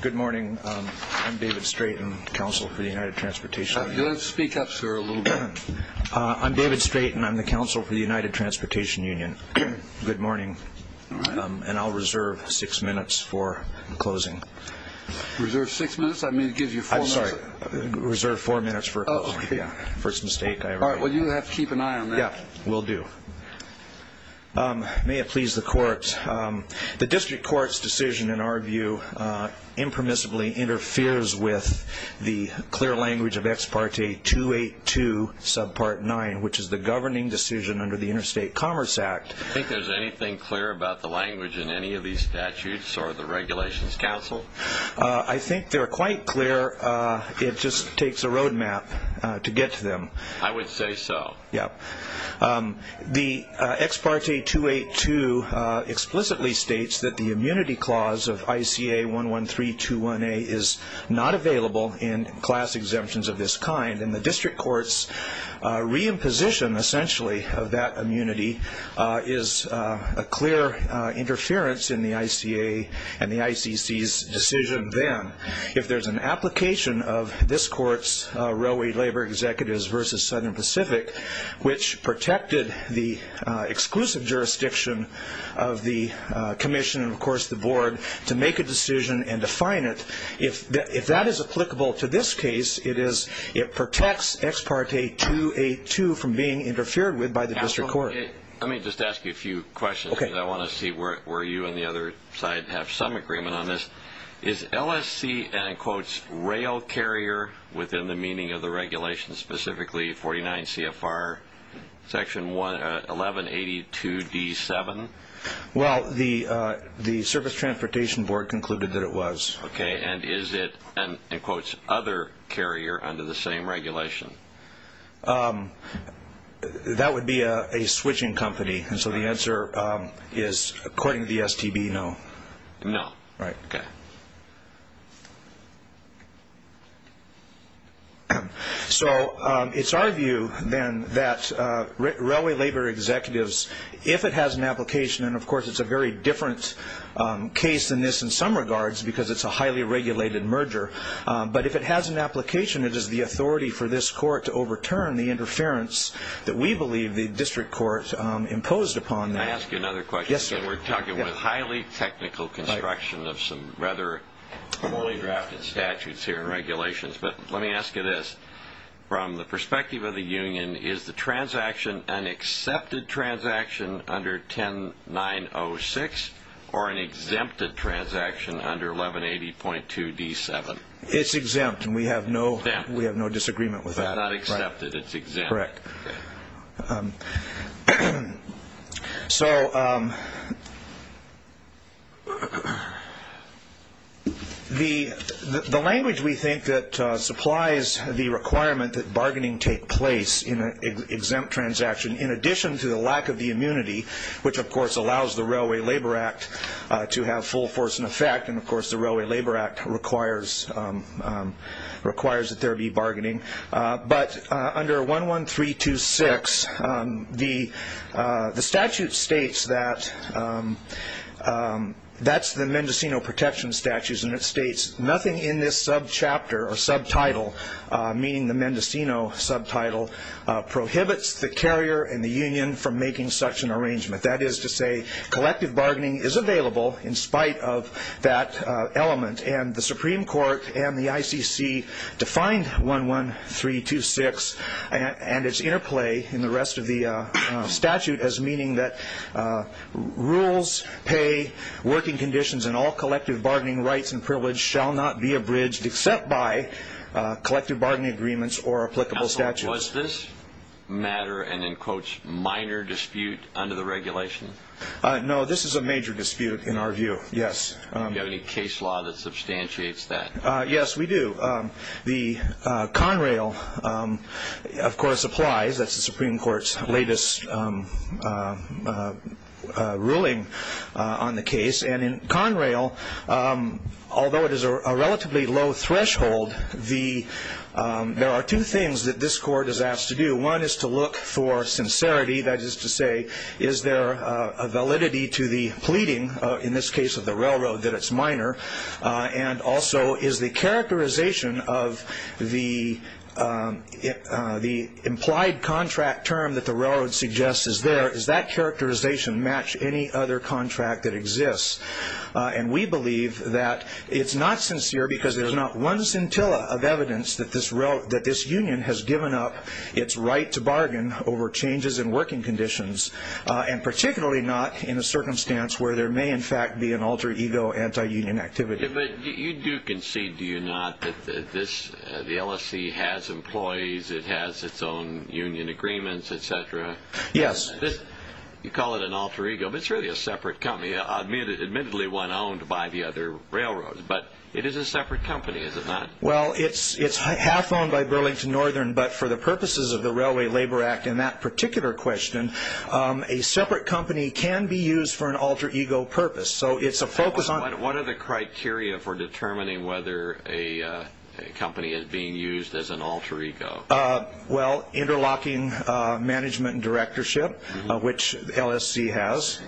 Good morning. I'm David Straighten, Counsel for the United Transportation Union. Speak up, sir, a little bit. I'm David Straighten. I'm the Counsel for the United Transportation Union. Good morning. All right. And I'll reserve six minutes for closing. Reserve six minutes? I mean, it gives you four minutes. I'm sorry. Reserve four minutes for closing. Oh, okay. First mistake I ever made. All right. Well, you have to keep an eye on that. Yeah, will do. May it please the courts. The district court's decision, in our view, impermissibly interferes with the clear language of Ex Parte 282, Subpart 9, which is the governing decision under the Interstate Commerce Act. Do you think there's anything clear about the language in any of these statutes or the regulations, Counsel? I think they're quite clear. It just takes a road map to get to them. I would say so. Yeah. The Ex Parte 282 explicitly states that the immunity clause of ICA 11321A is not available in class exemptions of this kind, and the district court's reimposition, essentially, of that immunity is a clear interference in the ICA and the ICC's decision then. If there's an application of this court's Railway Labor Executives v. Southern Pacific, which protected the exclusive jurisdiction of the commission and, of course, the board, to make a decision and define it, if that is applicable to this case, it protects Ex Parte 282 from being interfered with by the district court. Counsel, let me just ask you a few questions. I want to see where you and the other side have some agreement on this. Is LSC an, in quotes, rail carrier within the meaning of the regulations, specifically 49 CFR section 1182D7? Well, the Service Transportation Board concluded that it was. Okay. And is it an, in quotes, other carrier under the same regulation? That would be a switching company, and so the answer is, according to the STB, no. No. Right. Okay. So it's our view, then, that Railway Labor Executives, if it has an application, and, of course, it's a very different case than this in some regards because it's a highly regulated merger, but if it has an application, it is the authority for this court to overturn the interference that we believe the district court imposed upon them. Can I ask you another question? Yes, sir. We're talking about highly technical construction of some rather poorly drafted statutes here in regulations, but let me ask you this. From the perspective of the union, is the transaction an accepted transaction under 10906 or an exempted transaction under 1180.2D7? It's exempt, and we have no disagreement with that. It's not accepted. It's exempt. Correct. So the language we think that supplies the requirement that bargaining take place in an exempt transaction, in addition to the lack of the immunity, which, of course, allows the Railway Labor Act to have full force and effect, and, of course, the Railway Labor Act requires that there be bargaining, but under 11326, the statute states that that's the Mendocino protection statutes, and it states nothing in this subchapter or subtitle, meaning the Mendocino subtitle, prohibits the carrier and the union from making such an arrangement. That is to say collective bargaining is available in spite of that element, and the Supreme Court and the ICC defined 11326 and its interplay in the rest of the statute as meaning that rules, pay, working conditions, and all collective bargaining rights and privilege shall not be abridged except by collective bargaining agreements or applicable statutes. Counsel, was this matter and, in quotes, minor dispute under the regulation? No, this is a major dispute in our view, yes. Do you have any case law that substantiates that? Yes, we do. The Conrail, of course, applies. That's the Supreme Court's latest ruling on the case, and in Conrail, although it is a relatively low threshold, there are two things that this Court is asked to do. One is to look for sincerity. That is to say, is there a validity to the pleading, in this case of the railroad, that it's minor, and also is the characterization of the implied contract term that the railroad suggests is there, does that characterization match any other contract that exists? And we believe that it's not sincere because there's not one scintilla of evidence that this union has given up its right to bargain over changes in working conditions, and particularly not in a circumstance where there may, in fact, be an alter ego, anti-union activity. But you do concede, do you not, that the LSC has employees, it has its own union agreements, et cetera? Yes. You call it an alter ego, but it's really a separate company, admittedly one owned by the other railroads, but it is a separate company, is it not? Well, it's half owned by Burlington Northern, but for the purposes of the Railway Labor Act and that particular question, a separate company can be used for an alter ego purpose. What are the criteria for determining whether a company is being used as an alter ego? Well, interlocking management and directorship, which LSC has.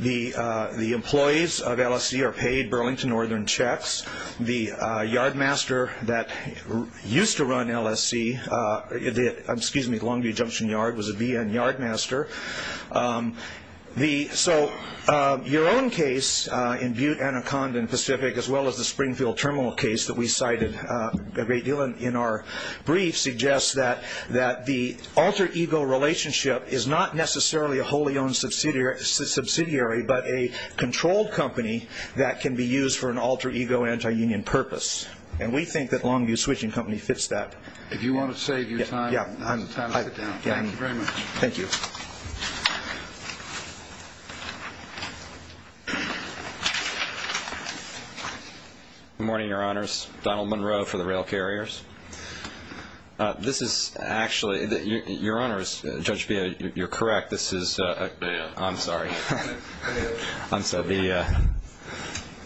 The employees of LSC are paid Burlington Northern checks. The yardmaster that used to run LSC, the Longview Junction Yard, was a BN yardmaster. So your own case in Butte, Anaconda, and Pacific, as well as the Springfield Terminal case that we cited a great deal in our brief, suggests that the alter ego relationship is not necessarily a wholly owned subsidiary, but a controlled company that can be used for an alter ego anti-union purpose. And we think that Longview Switching Company fits that. If you want to save your time, this is the time to sit down. Thank you very much. Thank you. Good morning, Your Honors. Donald Monroe for the Rail Carriers. This is actually, Your Honors, Judge Beha, you're correct. This is, I'm sorry,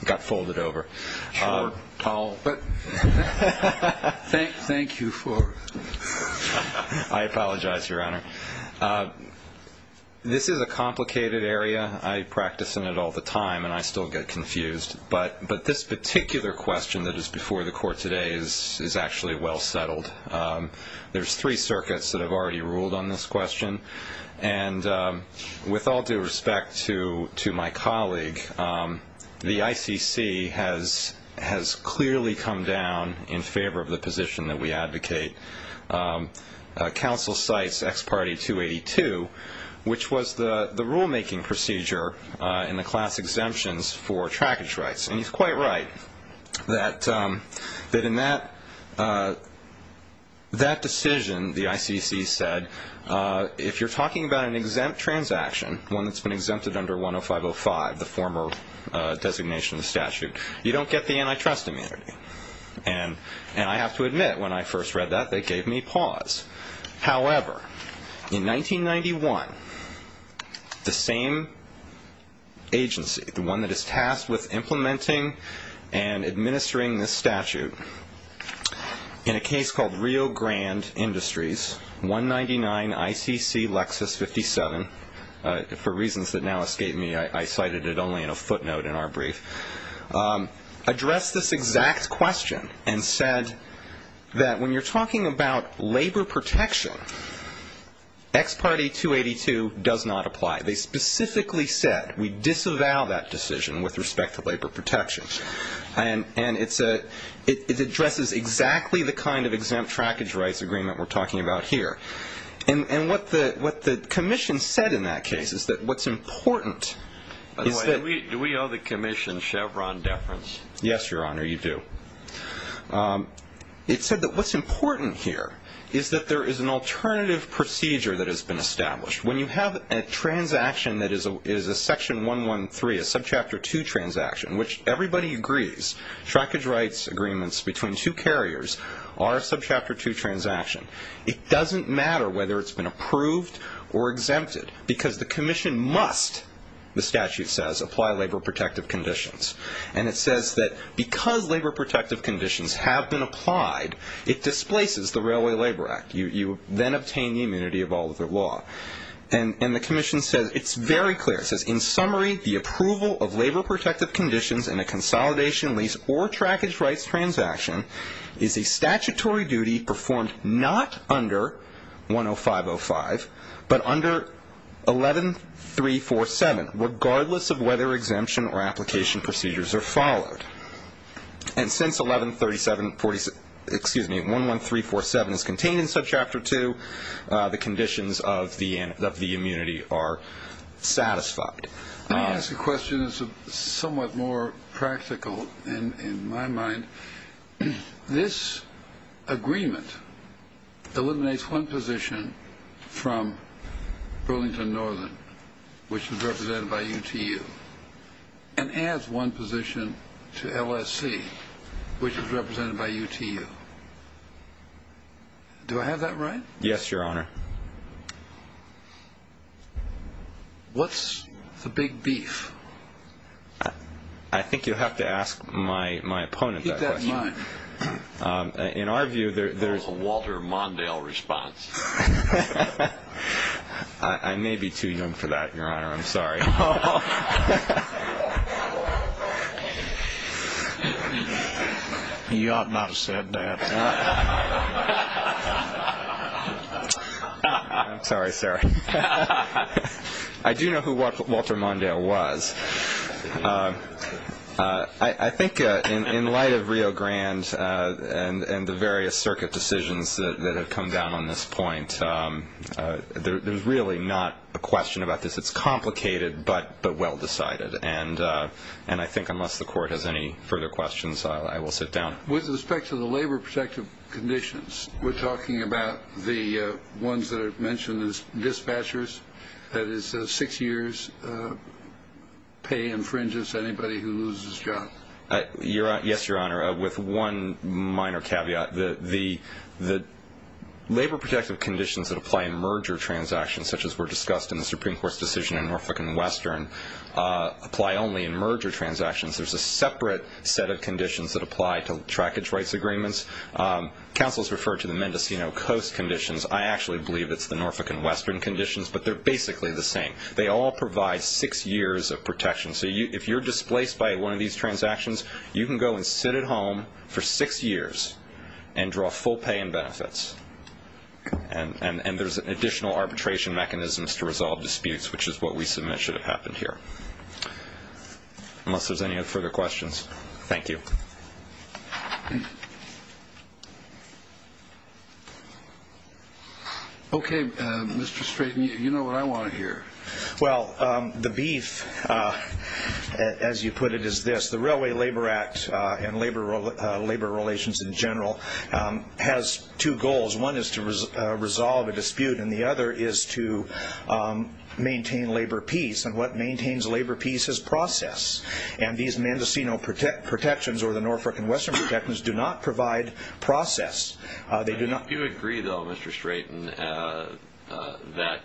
got folded over. Thank you for it. I apologize, Your Honor. This is a complicated area. I practice in it all the time, and I still get confused. But this particular question that is before the Court today is actually well settled. There's three circuits that have already ruled on this question. And with all due respect to my colleague, the ICC has clearly come down in favor of the position that we advocate. Counsel cites ex parte 282, which was the rulemaking procedure in the class exemptions for trackage rights. And he's quite right that in that decision, the ICC said, if you're talking about an exempt transaction, one that's been exempted under 105.05, the former designation of statute, you don't get the antitrust immunity. And I have to admit, when I first read that, that gave me pause. However, in 1991, the same agency, the one that is tasked with implementing and administering this statute, in a case called Rio Grande Industries, 199 ICC Lexus 57, for reasons that now escape me, I cited it only in a footnote in our brief, addressed this exact question and said that when you're talking about labor protection, ex parte 282 does not apply. They specifically said, we disavow that decision with respect to labor protection. And it addresses exactly the kind of exempt trackage rights agreement we're talking about here. And what the commission said in that case is that what's important is that- By the way, do we owe the commission Chevron deference? Yes, Your Honor, you do. It said that what's important here is that there is an alternative procedure that has been established. When you have a transaction that is a section 113, a subchapter 2 transaction, which everybody agrees trackage rights agreements between two carriers are a subchapter 2 transaction, it doesn't matter whether it's been approved or exempted, because the commission must, the statute says, apply labor protective conditions. And it says that because labor protective conditions have been applied, it displaces the Railway Labor Act. You then obtain the immunity of all other law. And the commission says, it's very clear, it says, in summary, the approval of labor protective conditions in a consolidation lease or trackage rights transaction is a statutory duty performed not under 105.05, but under 113.47, regardless of whether exemption or application procedures are followed. And since 113.47 is contained in subchapter 2, the conditions of the immunity are satisfied. Let me ask a question that's somewhat more practical in my mind. This agreement eliminates one position from Burlington Northern, which is represented by UTU, and adds one position to LSC, which is represented by UTU. Do I have that right? Yes, Your Honor. What's the big beef? I think you'll have to ask my opponent that question. Keep that in mind. In our view, there's a Walter Mondale response. I may be too young for that, Your Honor. I'm sorry. You ought not have said that. I'm sorry, sir. I do know who Walter Mondale was. I think in light of Rio Grande and the various circuit decisions that have come down on this point, there's really not a question about this. It's complicated, but well decided. And I think unless the Court has any further questions, I will sit down. With respect to the labor protective conditions, we're talking about the ones that are mentioned as dispatchers, that is six years' pay infringes on anybody who loses his job. Yes, Your Honor. With one minor caveat, the labor protective conditions that apply in merger transactions, such as were discussed in the Supreme Court's decision in Norfolk and Western, apply only in merger transactions. There's a separate set of conditions that apply to trackage rights agreements. Counsel has referred to the Mendocino Coast conditions. I actually believe it's the Norfolk and Western conditions, but they're basically the same. They all provide six years of protection. So if you're displaced by one of these transactions, you can go and sit at home for six years and draw full pay and benefits. And there's additional arbitration mechanisms to resolve disputes, which is what we submit should have happened here. Unless there's any further questions. Thank you. Okay, Mr. Strayton, you know what I want to hear. Well, the beef, as you put it, is this. The Railway Labor Act and labor relations in general has two goals. One is to resolve a dispute, and the other is to maintain labor peace. And what maintains labor peace is process. And these Mendocino protections or the Norfolk and Western protections do not provide process. Do you agree, though, Mr. Strayton, that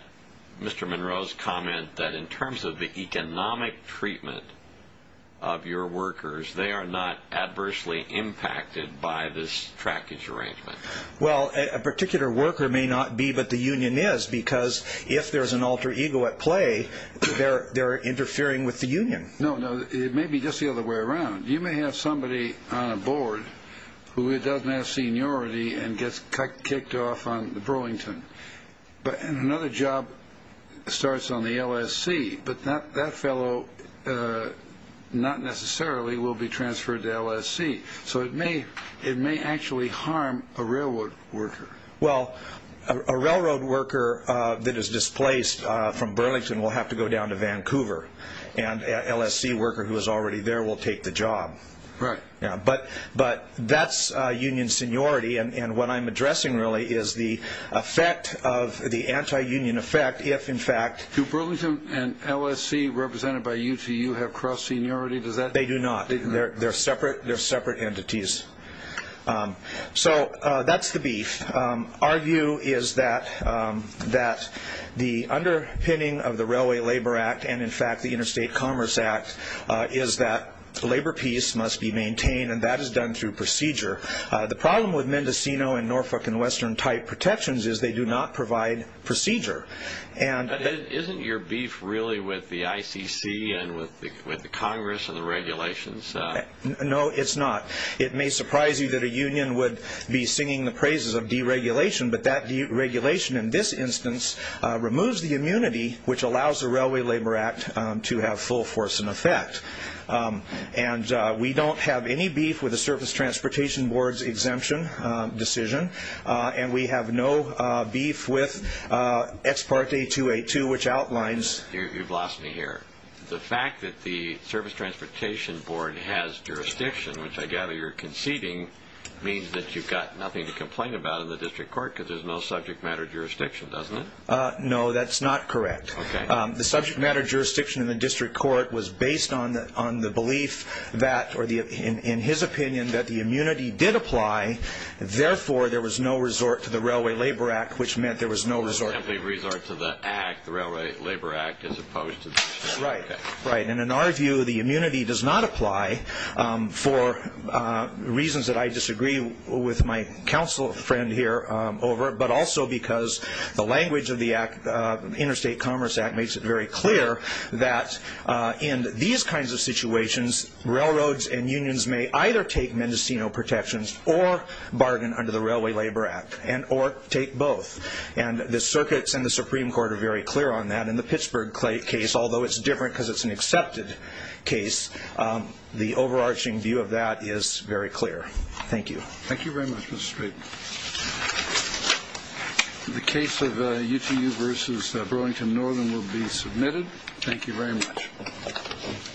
Mr. Monroe's comment that in terms of the economic treatment of your workers, they are not adversely impacted by this trackage arrangement? Well, a particular worker may not be, but the union is. Because if there's an alter ego at play, they're interfering with the union. No, no, it may be just the other way around. You may have somebody on a board who doesn't have seniority and gets kicked off on Burlington. But another job starts on the LSC, but that fellow not necessarily will be transferred to LSC. So it may actually harm a railroad worker. Well, a railroad worker that is displaced from Burlington will have to go down to Vancouver, and an LSC worker who is already there will take the job. Right. But that's union seniority, and what I'm addressing really is the effect of the anti-union effect if, in fact- Do Burlington and LSC represented by UTU have cross seniority? They do not. They're separate entities. So that's the beef. Our view is that the underpinning of the Railway Labor Act and, in fact, the Interstate Commerce Act is that labor peace must be maintained, and that is done through procedure. The problem with Mendocino and Norfolk and Western type protections is they do not provide procedure. But isn't your beef really with the ICC and with the Congress and the regulations? No, it's not. It may surprise you that a union would be singing the praises of deregulation, but that deregulation in this instance removes the immunity which allows the Railway Labor Act to have full force in effect. And we don't have any beef with the Service Transportation Board's exemption decision, and we have no beef with Ex parte 282, which outlines- You've lost me here. The fact that the Service Transportation Board has jurisdiction, which I gather you're conceding, means that you've got nothing to complain about in the district court because there's no subject matter jurisdiction, doesn't it? No, that's not correct. The subject matter jurisdiction in the district court was based on the belief that, or in his opinion, that the immunity did apply. Therefore, there was no resort to the Railway Labor Act, which meant there was no resort- Right, right. And in our view, the immunity does not apply for reasons that I disagree with my counsel friend here over, but also because the language of the Interstate Commerce Act makes it very clear that in these kinds of situations, railroads and unions may either take Mendocino protections or bargain under the Railway Labor Act or take both. And the circuits and the Supreme Court are very clear on that. And in the Pittsburgh case, although it's different because it's an accepted case, the overarching view of that is very clear. Thank you. Thank you very much, Mr. Straten. The case of UTU versus Burlington Northern will be submitted. Thank you very much.